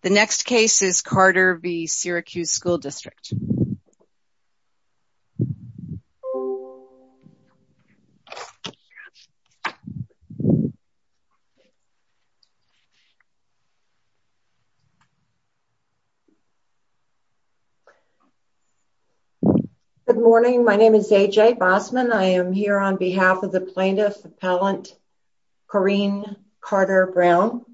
The next case is Carter v. Syracuse School District. Good morning, my name is A.J. Bosman. I am here on behalf of the Plaintiff Appellant Corinne Carter Brown.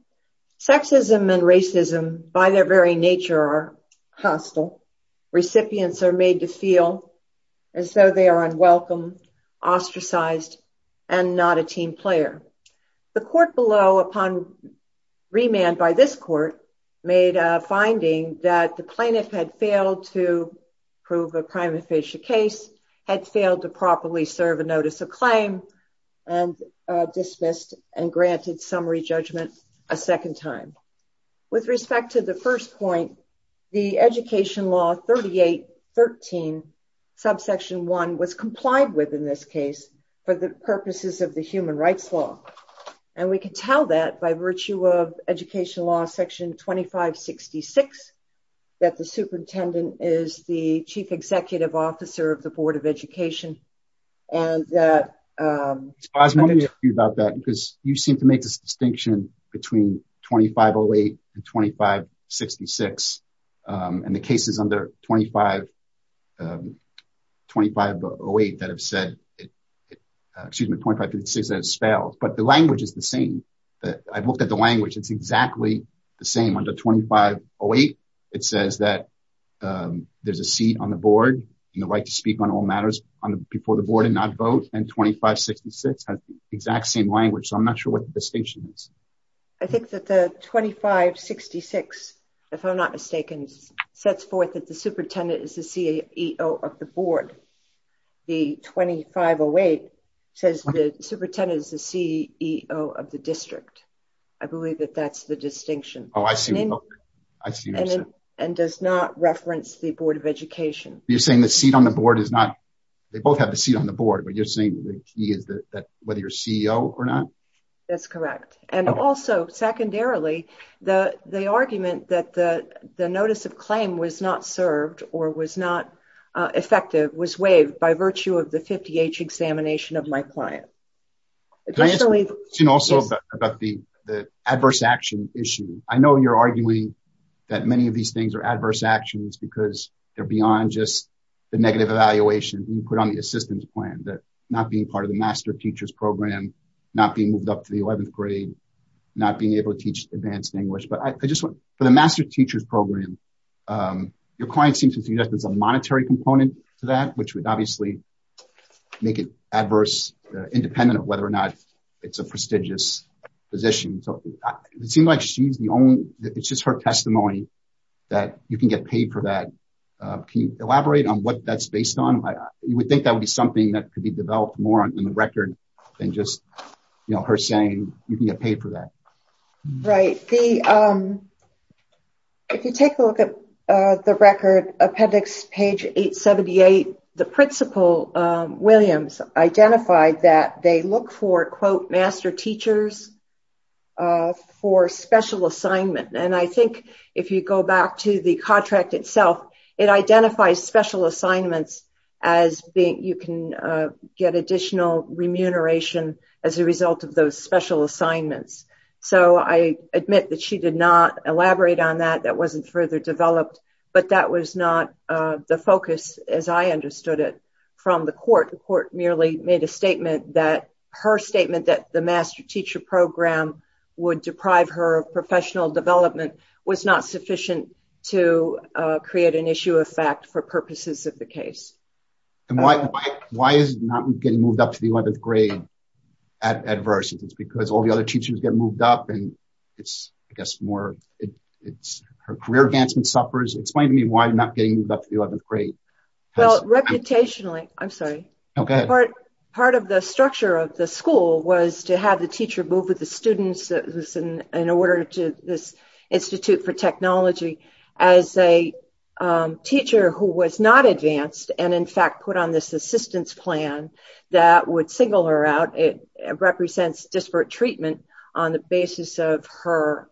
Sexism and racism by their very nature are hostile. Recipients are made to feel as though they are unwelcome, ostracized, and not a team player. The court below, upon remand by this court, made a finding that the plaintiff had failed to prove a crime-official case, had failed to properly serve a notice of claim, and dismissed and granted summary judgment a second time. With respect to the first point, the Education Law 3813 subsection 1 was complied with in this case for the purposes of the Human Rights Law. And we can tell that by virtue of the Board of Education. You seem to make this distinction between 2508 and 2566, and the cases under 2508 that have spelled, but the language is the same. I've looked at the language, it's exactly the same. Under 2508 it says that there's a seat on the board and the right to speak on all matters before the board and not vote, and 2566 has the exact same language, so I'm not sure what the distinction is. I think that the 2566, if I'm not mistaken, sets forth that the superintendent is the CEO of the board. The 2508 says the superintendent is the CEO of the district. I believe that that's the and does not reference the Board of Education. You're saying the seat on the board is not, they both have the seat on the board, but you're saying the key is that whether you're CEO or not? That's correct. And also, secondarily, the argument that the notice of claim was not served or was not effective was waived by virtue of the 50H examination of my client. Can I ask a question also about the adverse action issue? I know you're arguing that many of these things are adverse actions because they're beyond just the negative evaluation you put on the assistance plan, that not being part of the master teacher's program, not being moved up to the 11th grade, not being able to teach advanced English, but I just want, for the master teacher's program, your client seems to see that there's a monetary component to that, which would obviously make it adverse, independent of whether or not it's a prestigious position. It seems like she's the only, it's just her testimony that you can get paid for that. Can you elaborate on what that's based on? You would think that would be something that could be developed more in the record than just her saying you can get paid for that. Right. If you take a look at the record, appendix page 878, the principal, Williams, identified that they look for quote, master teachers for special assignment. And I think if you go back to the contract itself, it identifies special assignments as being, you can get additional remuneration as a result of those special assignments. So I admit that she did not elaborate on that. That wasn't further developed, but that was not the focus as I understood it from the court. The court merely made a statement that her statement that the master teacher program would deprive her of professional development was not sufficient to create an issue of fact for purposes of the case. And why is not getting moved up to the 11th grade adverse? It's because all the other teachers get moved up and it's, I guess more, it's her career advancement suffers. Explain to me why not getting moved up to the 11th grade? Well, reputationally, I'm sorry. Okay. Part of the structure of the school was to have the teacher move with the students in order to this Institute for technology as a teacher who was not advanced. And in fact, put on this assistance plan that would single her out. It represents disparate treatment on the basis of her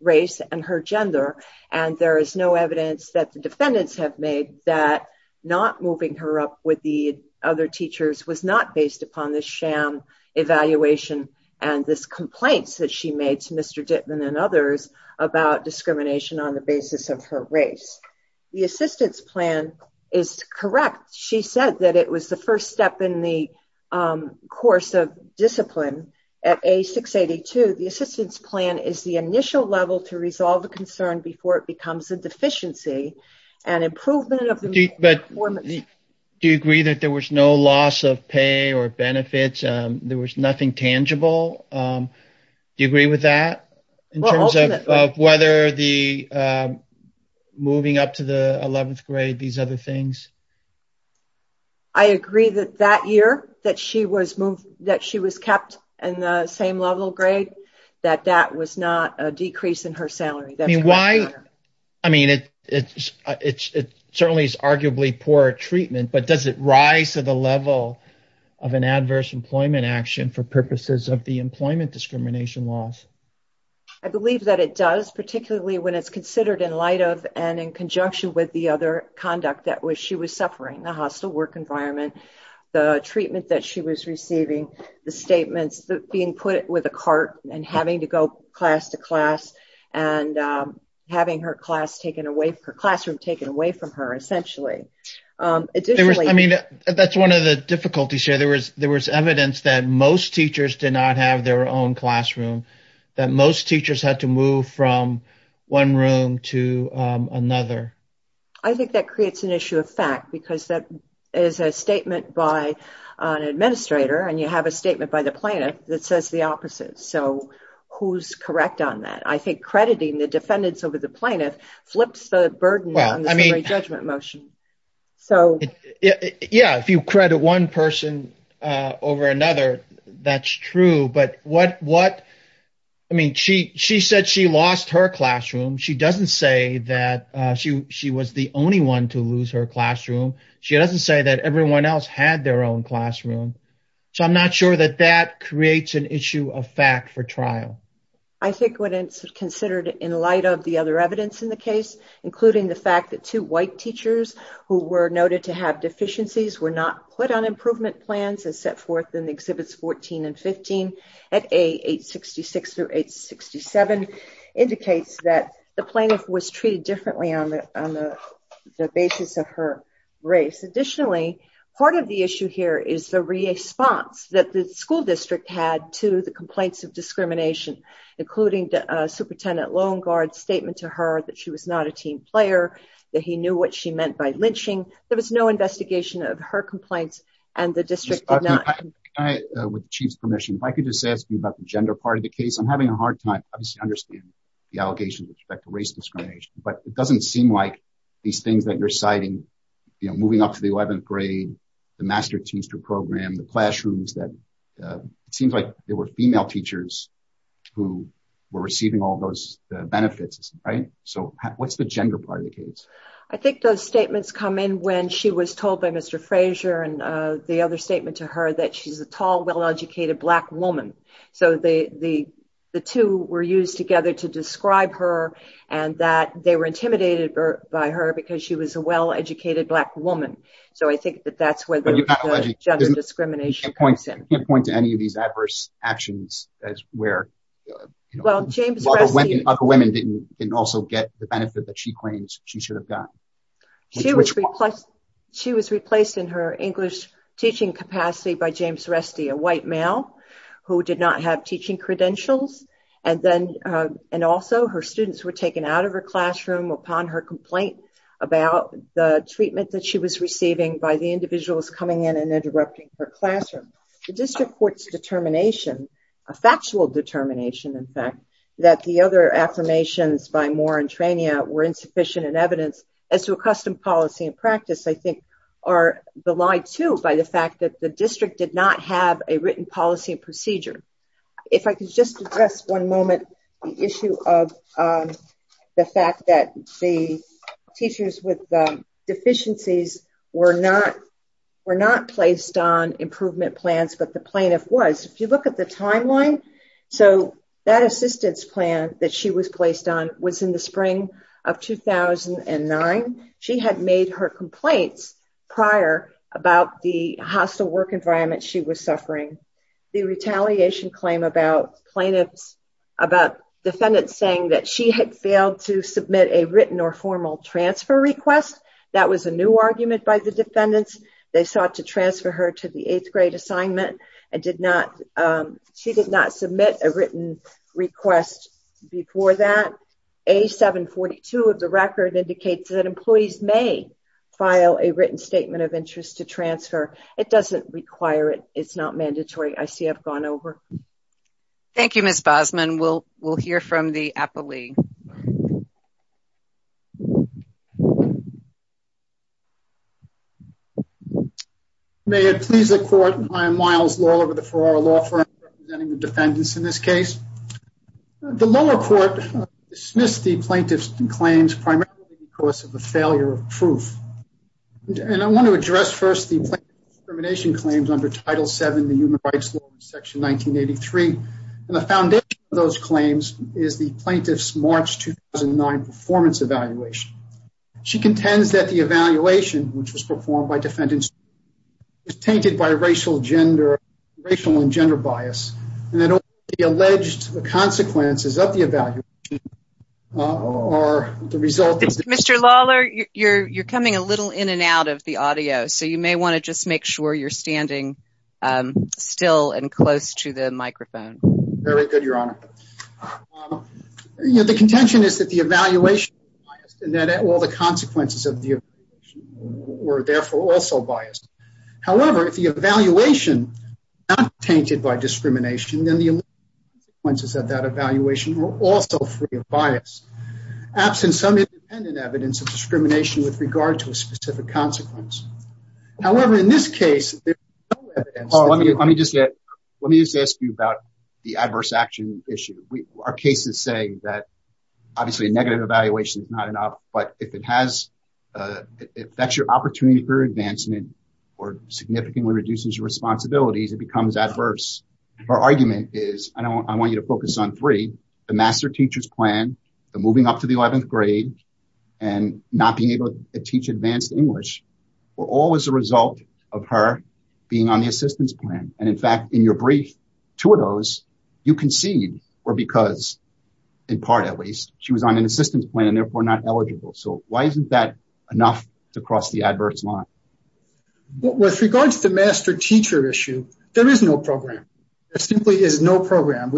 race and her gender. And there is no evidence that the defendants have made that not moving her up with the other teachers was not based upon the sham evaluation and this complaints that she made to Mr. Dittman and others about discrimination on the basis of her race. The assistance plan is correct. She said that it was the first step in the course of discipline at a 682. The assistance plan is the initial level to resolve the concern before it becomes a deficiency and improvement of the performance. Do you agree that there was no loss of pay or benefits? There was nothing tangible. Do you agree with that in terms of whether the moving up to the 11th grade, these other things? I agree that that year that she was moved, that she was kept in the same level grade, that that was not a decrease in her salary. I mean, it certainly is arguably poor treatment, but does it rise to the level of an adverse employment action for purposes of the employment discrimination laws? I believe that it does, particularly when it's considered in light of and in conjunction with the other conduct that she was suffering, the hostile work environment, the treatment that she was receiving, the statements that being put with a cart and having to go class to class and having her classroom taken away from her, essentially. I mean, that's one of the difficulties here. There was evidence that most teachers did not have their own classroom, that most teachers had to move from one room to another. I think that creates an issue of fact because that is a statement by an administrator and you correct on that. I think crediting the defendants over the plaintiff flips the burden on the summary judgment motion. Yeah, if you credit one person over another, that's true. She said she lost her classroom. She doesn't say that she was the only one to lose her classroom. She doesn't say that everyone else had their own classroom. So, I'm not sure that that creates an issue of fact for trial. I think when it's considered in light of the other evidence in the case, including the fact that two white teachers who were noted to have deficiencies were not put on improvement plans as set forth in Exhibits 14 and 15 at A866-867 indicates that the plaintiff was treated differently on the basis of her race. Additionally, part of the issue here is the response that the school district had to the complaints of discrimination, including the Superintendent Longard's statement to her that she was not a team player, that he knew what she meant by lynching. There was no investigation of her complaints and the district did not. With the Chief's permission, if I could just ask you about the gender part of the case. I'm having a hard time obviously understanding the allegations with respect to race discrimination, but it doesn't seem like these things that you're citing, you know, moving up to the 11th grade, the Master Teamster program, the classrooms, it seems like there were female teachers who were receiving all those benefits, right? So, what's the gender part of the case? I think those statements come in when she was told by Mr. Frazier and the other statement to her that she's a tall, well-educated black woman. So, the two were used together to describe her and that they were intimidated by her because she was a well-educated black woman. So, I think that that's where the gender discrimination comes in. I can't point to any of these adverse actions as where other women didn't also get the benefit that she claims she should have gotten. She was replaced in her English teaching capacity by James Rusty, a white male who did not have teaching credentials, and then and also her students were taken out of her classroom upon her complaint about the treatment that she was receiving by the individuals coming in and interrupting her classroom. The district court's determination, a factual determination in fact, that the other affirmations by Moore and Trania were insufficient in evidence as to a custom policy and practice, I think, are belied too by the fact that the district did not have a written policy and if I could just address one moment the issue of the fact that the teachers with deficiencies were not placed on improvement plans, but the plaintiff was. If you look at the timeline, so that assistance plan that she was placed on was in the spring of 2009. She had made her claim about defendants saying that she had failed to submit a written or formal transfer request. That was a new argument by the defendants. They sought to transfer her to the eighth grade assignment and she did not submit a written request before that. A-742 of the record indicates that employees may file a written statement of interest to transfer. It doesn't require it. It's not mandatory. I see I've gone over. Thank you, Ms. Bosman. We'll hear from the appellee. May it please the court, I am Miles Law over the Ferrara Law Firm representing the defendants in this case. The lower court dismissed the plaintiff's claims primarily because of the and I want to address first the discrimination claims under Title VII, the human rights law section 1983. The foundation of those claims is the plaintiff's March 2009 performance evaluation. She contends that the evaluation which was performed by defendants was tainted by racial gender racial and gender bias and that the alleged consequences of the evaluation are the result. Mr. Lawler, you're coming a little in and out of the audio so you may want to just make sure you're standing still and close to the microphone. Very good, Your Honor. The contention is that the evaluation and that all the consequences of the were therefore also biased. However, if the evaluation not tainted by discrimination then the consequences of that evaluation were also free of bias, absent some independent evidence of discrimination with regard to a specific consequence. However, in this case, let me just let me just ask you about the adverse action issue. Our case is saying that obviously a negative evaluation is not enough but if it has, if that's your opportunity for advancement or significantly reduces your responsibilities, it becomes adverse. Her argument is, and I want you to focus on three, the master teacher's plan, the moving up to the 11th grade, and not being able to teach advanced English were all as a result of her being on the assistance plan. And in fact, in your brief, two of those you concede were because, in part at least, she was on an assistance plan and therefore not eligible. So why isn't that enough to cross the There simply is no program.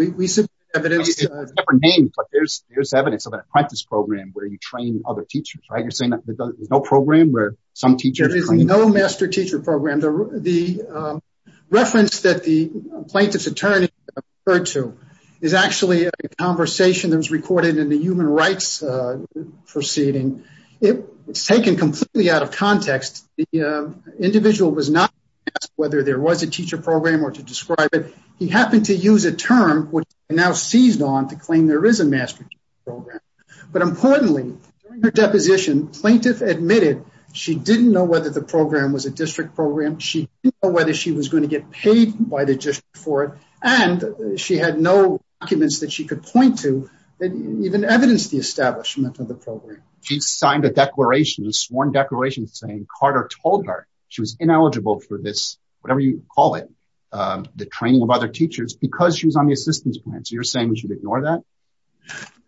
There's evidence of an apprentice program where you train other teachers, right? You're saying that there's no program where some teachers... There is no master teacher program. The reference that the plaintiff's attorney referred to is actually a conversation that was recorded in the human rights proceeding. It's taken completely out of context. The He happened to use a term which now seized on to claim there is a master program. But importantly, her deposition, plaintiff admitted she didn't know whether the program was a district program, she didn't know whether she was going to get paid by the district for it, and she had no documents that she could point to that even evidenced the establishment of the program. She signed a declaration, a sworn declaration, saying Carter told her she was ineligible for this, whatever you call it, the training of other teachers because she was on the assistance plan. So you're saying we should ignore that?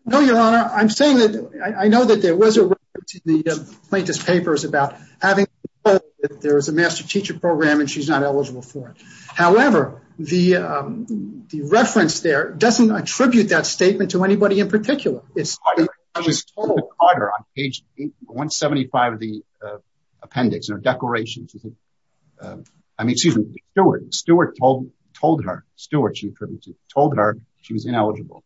No, your honor. I'm saying that I know that there was a reference in the plaintiff's papers about having that there was a master teacher program and she's not eligible for it. However, the reference there doesn't attribute that statement to anybody in particular. She told Carter on page 175 of the appendix in her declaration, I mean, excuse me, Stewart, Stewart told her, Stewart, she told her she was ineligible.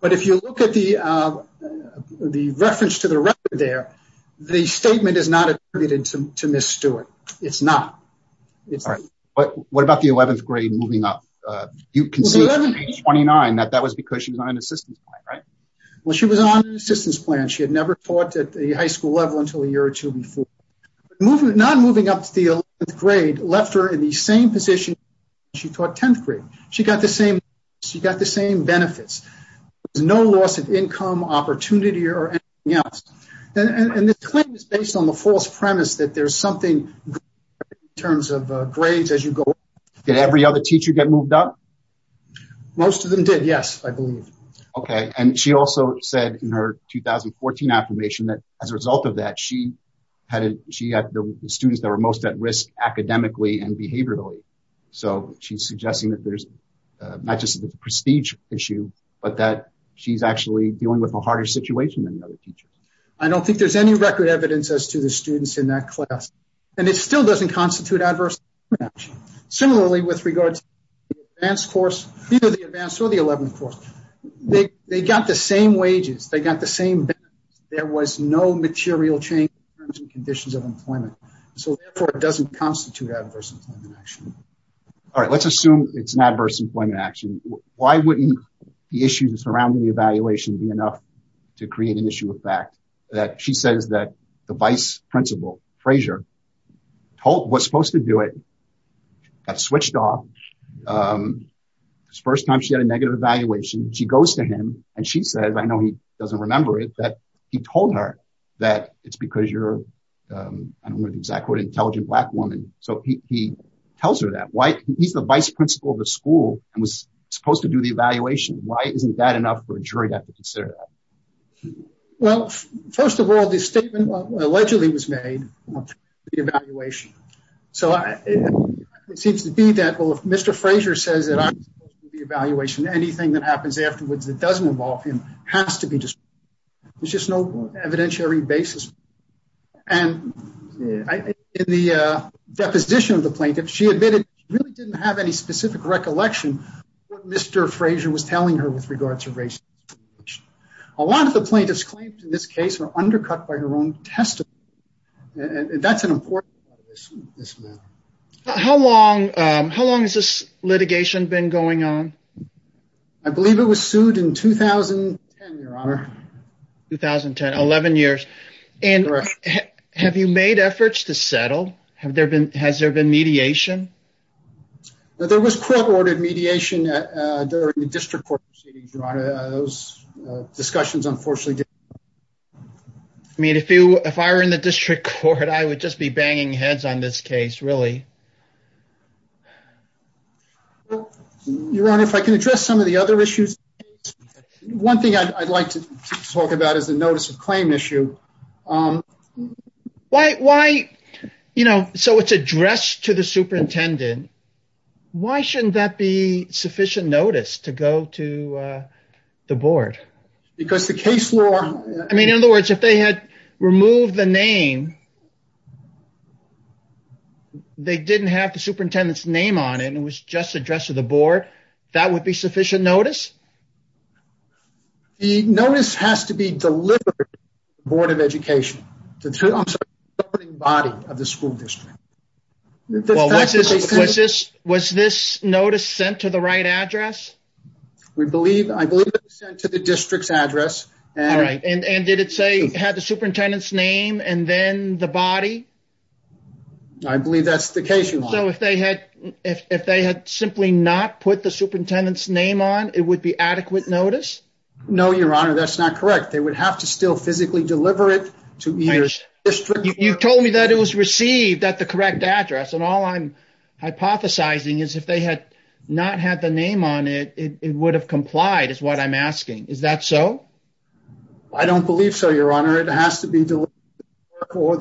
But if you look at the reference to the record there, the statement is not attributed to Miss Stewart. It's not. What about the 11th grade moving up? You can see on page 29 that was because she was on an assistance plan, right? Well, she was on an assistance plan. She had never taught at the high school level until a year or two before. Not moving up to the 11th grade left her in the same position she taught 10th grade. She got the same benefits. There was no loss of income, opportunity, or anything else. And this claim is based on the false premise that there's something in terms of grades as you go up. Did every other teacher get moved up? Most of them did. Yes, I believe. Okay. And she also said in her 2014 affirmation that as a result of that, she had, she had the students that were most at risk academically and behaviorally. So she's suggesting that there's not just the prestige issue, but that she's actually dealing with a harder situation than the other teachers. I don't think there's any record evidence as to the students in that class. And it still doesn't constitute adverse. Similarly, with regards to the advanced course, either the advanced or the 11th course, they got the same wages. They got the same benefits. There was no material change in terms and conditions of employment. So therefore, it doesn't constitute adverse employment action. All right. Let's assume it's an adverse employment action. Why wouldn't the issues surrounding the evaluation be enough to create an issue of fact that she says that the vice principal, Fraser, was supposed to do it, got switched off. It's the first time she had a negative evaluation. She goes to him and she says, I know he doesn't remember it, that he told her that it's because you're, I don't know the exact word, intelligent black woman. So he tells her that. He's the vice principal of the school and was supposed to do the evaluation. Why isn't that enough for a jury to consider that? Well, first of all, the statement allegedly was made on the evaluation. So it seems to be that, well, if Mr. Fraser says that I'm supposed to do the evaluation, anything that happens afterwards that doesn't involve him has to be destroyed. There's just no evidentiary basis. And in the deposition of the plaintiff, she admitted she really didn't have any specific recollection of what Mr. Fraser was telling her with regards to race. A lot of the plaintiffs claimed in this case were undercut by her own testimony. And that's an important issue in this matter. How long has this litigation been going on? I believe it was sued in 2010, your honor. 2010, 11 years. And have you made efforts to settle? Has there been mediation? There was court-ordered mediation during the district court proceedings, your honor. Those discussions, unfortunately, didn't happen. I mean, if I were in the district court, I would just be banging heads on this case, really. Your honor, if I can address some of the other issues. One thing I'd like to talk about is the notice of claim issue. Why, you know, so it's addressed to the superintendent. Why shouldn't that be sufficient notice to go to the board? Because the case law. I mean, in other words, if they had removed the name, they didn't have the superintendent's name on it and it was just addressed to the board, that would be sufficient notice? The notice has to be delivered to the board of education. I'm sorry, the governing body of the school district. Was this notice sent to the right address? I believe it was sent to the district's address. All right. And did it say it had the superintendent's name and then the body? I believe that's the case, your honor. So if they had simply not put the superintendent's name on, it would be adequate notice? No, your honor, that's not correct. They would have to still physically deliver it to the district. You told me that it was received at the correct address and all I'm hypothesizing is if they had not had the name on it, it would have complied is what I'm asking. Is that so? I don't believe so, your honor. It has to be delivered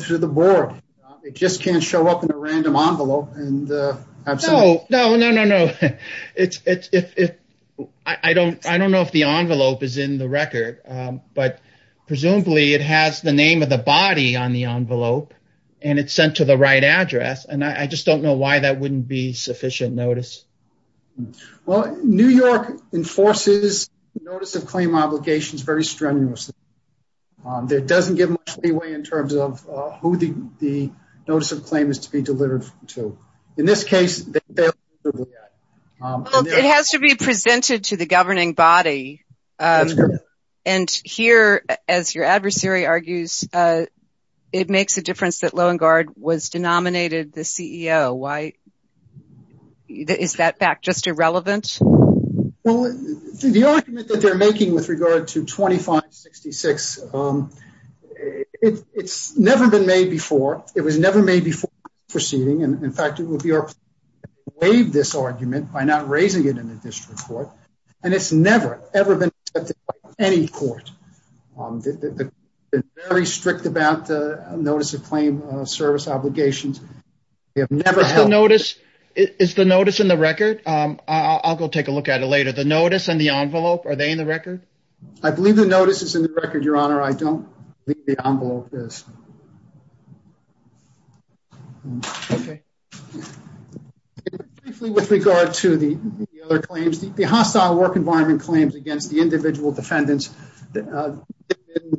to the board. It just can't show up in a random envelope. No, no, no, no. I don't know if the envelope is in the record, but presumably it has the name of the body on the envelope and it's sent to the right address and I just don't know why that wouldn't be sufficient notice. Well, New York enforces notice of claim obligations very strenuously. There doesn't give much leeway in terms of who the notice of claim is to be delivered to. In this case, it has to be presented to the governing body and here, as your adversary argues, it makes a difference that Loewengaard was denominated the CEO. Why is that fact just irrelevant? Well, the argument that they're it was never made before proceeding. In fact, it would be our way of this argument by not raising it in the district court and it's never, ever been accepted by any court. It's very strict about the notice of claim service obligations. Is the notice in the record? I'll go take a look at it later. The notice and the envelope, are they in the record? I believe the notice is in the record, your honor. I don't believe the envelope is. Okay, briefly with regard to the other claims, the hostile work environment claims against the individual defendants,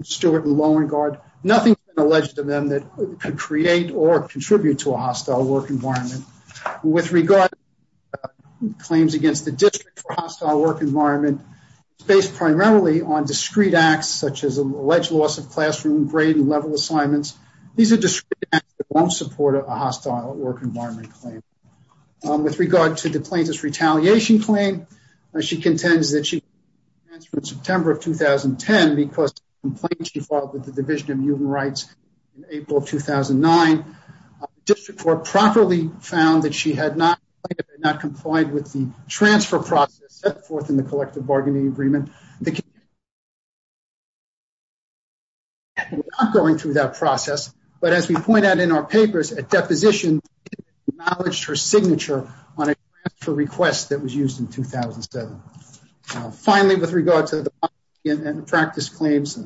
Stewart and Loewengaard, nothing has been alleged to them that could create or contribute to a hostile work environment. With regard to claims against the district for classroom grade and level assignments, these are discrete acts that won't support a hostile work environment claim. With regard to the plaintiff's retaliation claim, she contends that she transferred in September of 2010 because of a complaint she filed with the Division of Human Rights in April of 2009. The district court properly found that she had not complied with the transfer process set forth in the collective bargaining agreement. We're not going through that process, but as we point out in our papers, a deposition acknowledged her signature on a transfer request that was used in 2007. Finally, with regard to the practice claims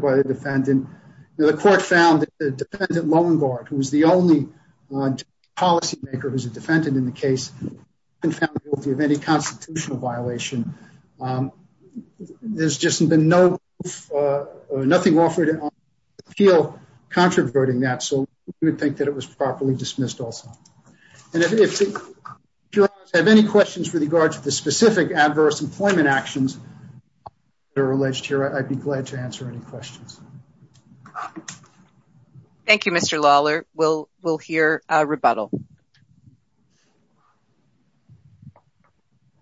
by the defendant, the court found that the defendant Loewengaard, who was the only policymaker who's a defendant in the case, found guilty of any constitutional violation. There's just been no nothing offered in appeal controverting that, so we would think that it was properly dismissed also. And if you have any questions with regards to the specific adverse employment actions that are alleged here, I'd be glad to answer any questions. Thank you, Mr. Lawler. We'll hear a rebuttal.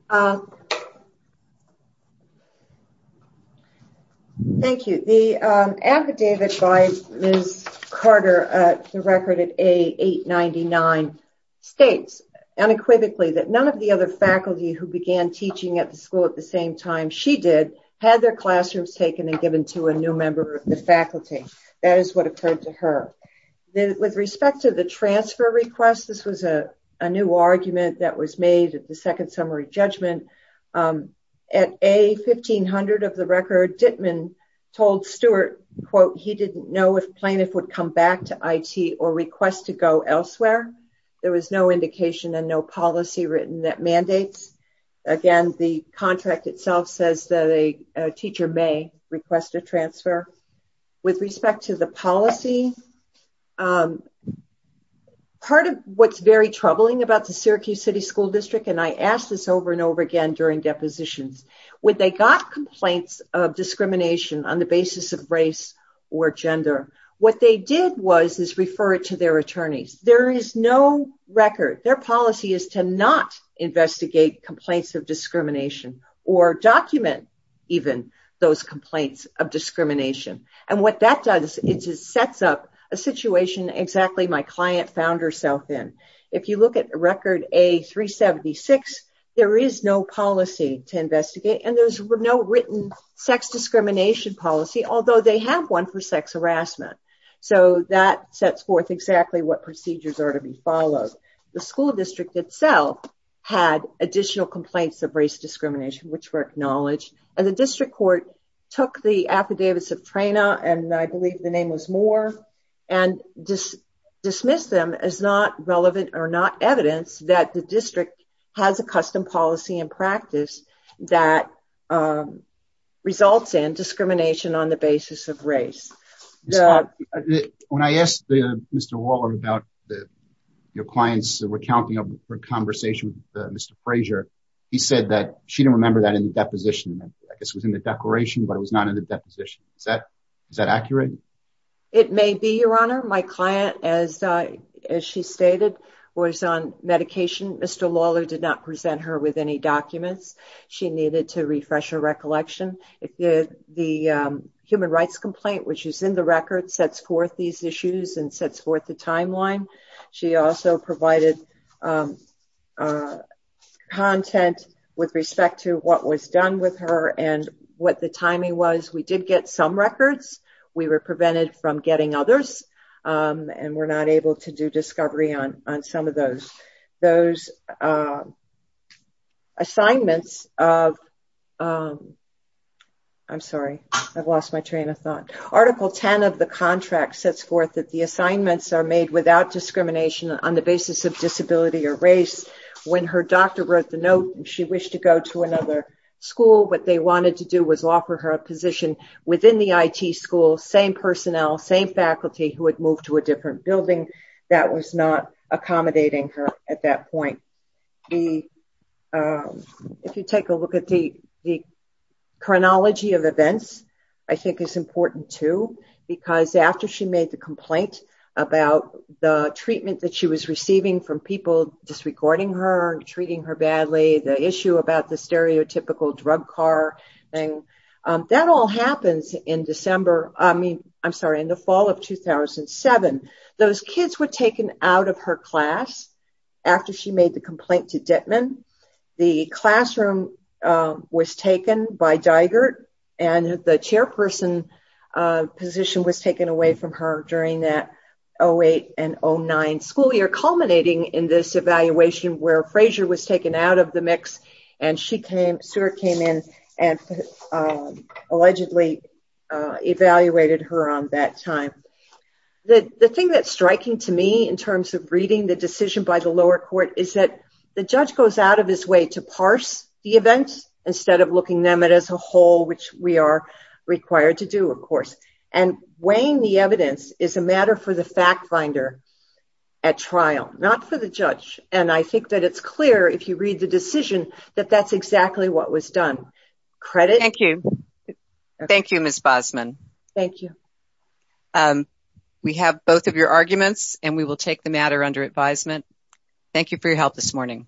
Thank you. The affidavit by Ms. Carter, the record at A899, states unequivocally that none of the other faculty who began teaching at the school at the same time she did had their classrooms taken and given to a new member of the faculty. That is what occurred to her. With respect to the transfer request, this was a new argument that was made at the second summary judgment. At A1500 of the record, Dittman told Stewart, quote, he didn't know if plaintiff would come back to IT or request to go elsewhere. There was no indication and no policy written that mandates. Again, the contract itself says that a teacher may request a transfer. With respect to the policy, part of what's very troubling about the Syracuse City School District, and I asked this over and over again during depositions, when they got complaints of discrimination on the basis of race or gender, what they did was refer it to their attorneys. There is no record. Their policy is to not investigate complaints of discrimination or document even those complaints of discrimination. What that does is it sets up a situation exactly my client found herself in. If you look at record A376, there is no policy to investigate and there's no written sex discrimination policy, although they have one for sex harassment. That sets forth exactly what procedures are to be followed. The school itself had additional complaints of race discrimination, which were acknowledged, and the district court took the affidavits of Traynor, and I believe the name was Moore, and just dismissed them as not relevant or not evidence that the district has a custom policy and practice that results in discrimination on the basis of race. When I asked Mr. Waller about your clients recounting of her conversation with Mr. Fraser, he said that she didn't remember that in the deposition. I guess it was in the declaration, but it was not in the deposition. Is that accurate? It may be, Your Honor. My client, as she stated, was on medication. Mr. Waller did not present her with any documents. She needed to refresh her recollection. The human rights complaint, which is in the record, sets forth these issues and sets forth the she also provided content with respect to what was done with her and what the timing was. We did get some records. We were prevented from getting others, and were not able to do discovery on some of those assignments. I'm sorry. I've lost my train of thought. Article 10 of the contract sets forth that the assignments are made without discrimination on the basis of disability or race. When her doctor wrote the note, she wished to go to another school. What they wanted to do was offer her a position within the IT school, same personnel, same faculty who had moved to a different building. That was not accommodating her at that point. If you take a look at the chronology of events, I think it's important, too. After she made the complaint about the treatment that she was receiving from people disregarding her and treating her badly, the issue about the stereotypical drug car, that all happens in the fall of 2007. Those kids were taken out of her and the chairperson position was taken away from her during that 08 and 09 school year, culminating in this evaluation where Frasier was taken out of the mix. She came in and allegedly evaluated her on that time. The thing that's striking to me in terms of reading the decision by the lower court is that the judge goes out of his way to parse the events instead of looking them as a whole, which we are required to do, of course. Weighing the evidence is a matter for the fact finder at trial, not for the judge. I think that it's clear if you read the decision that that's exactly what was done. Thank you. Thank you, Ms. Bosman. Thank you. We have both of your arguments and we will take the matter under advisement. Thank you for your help this morning.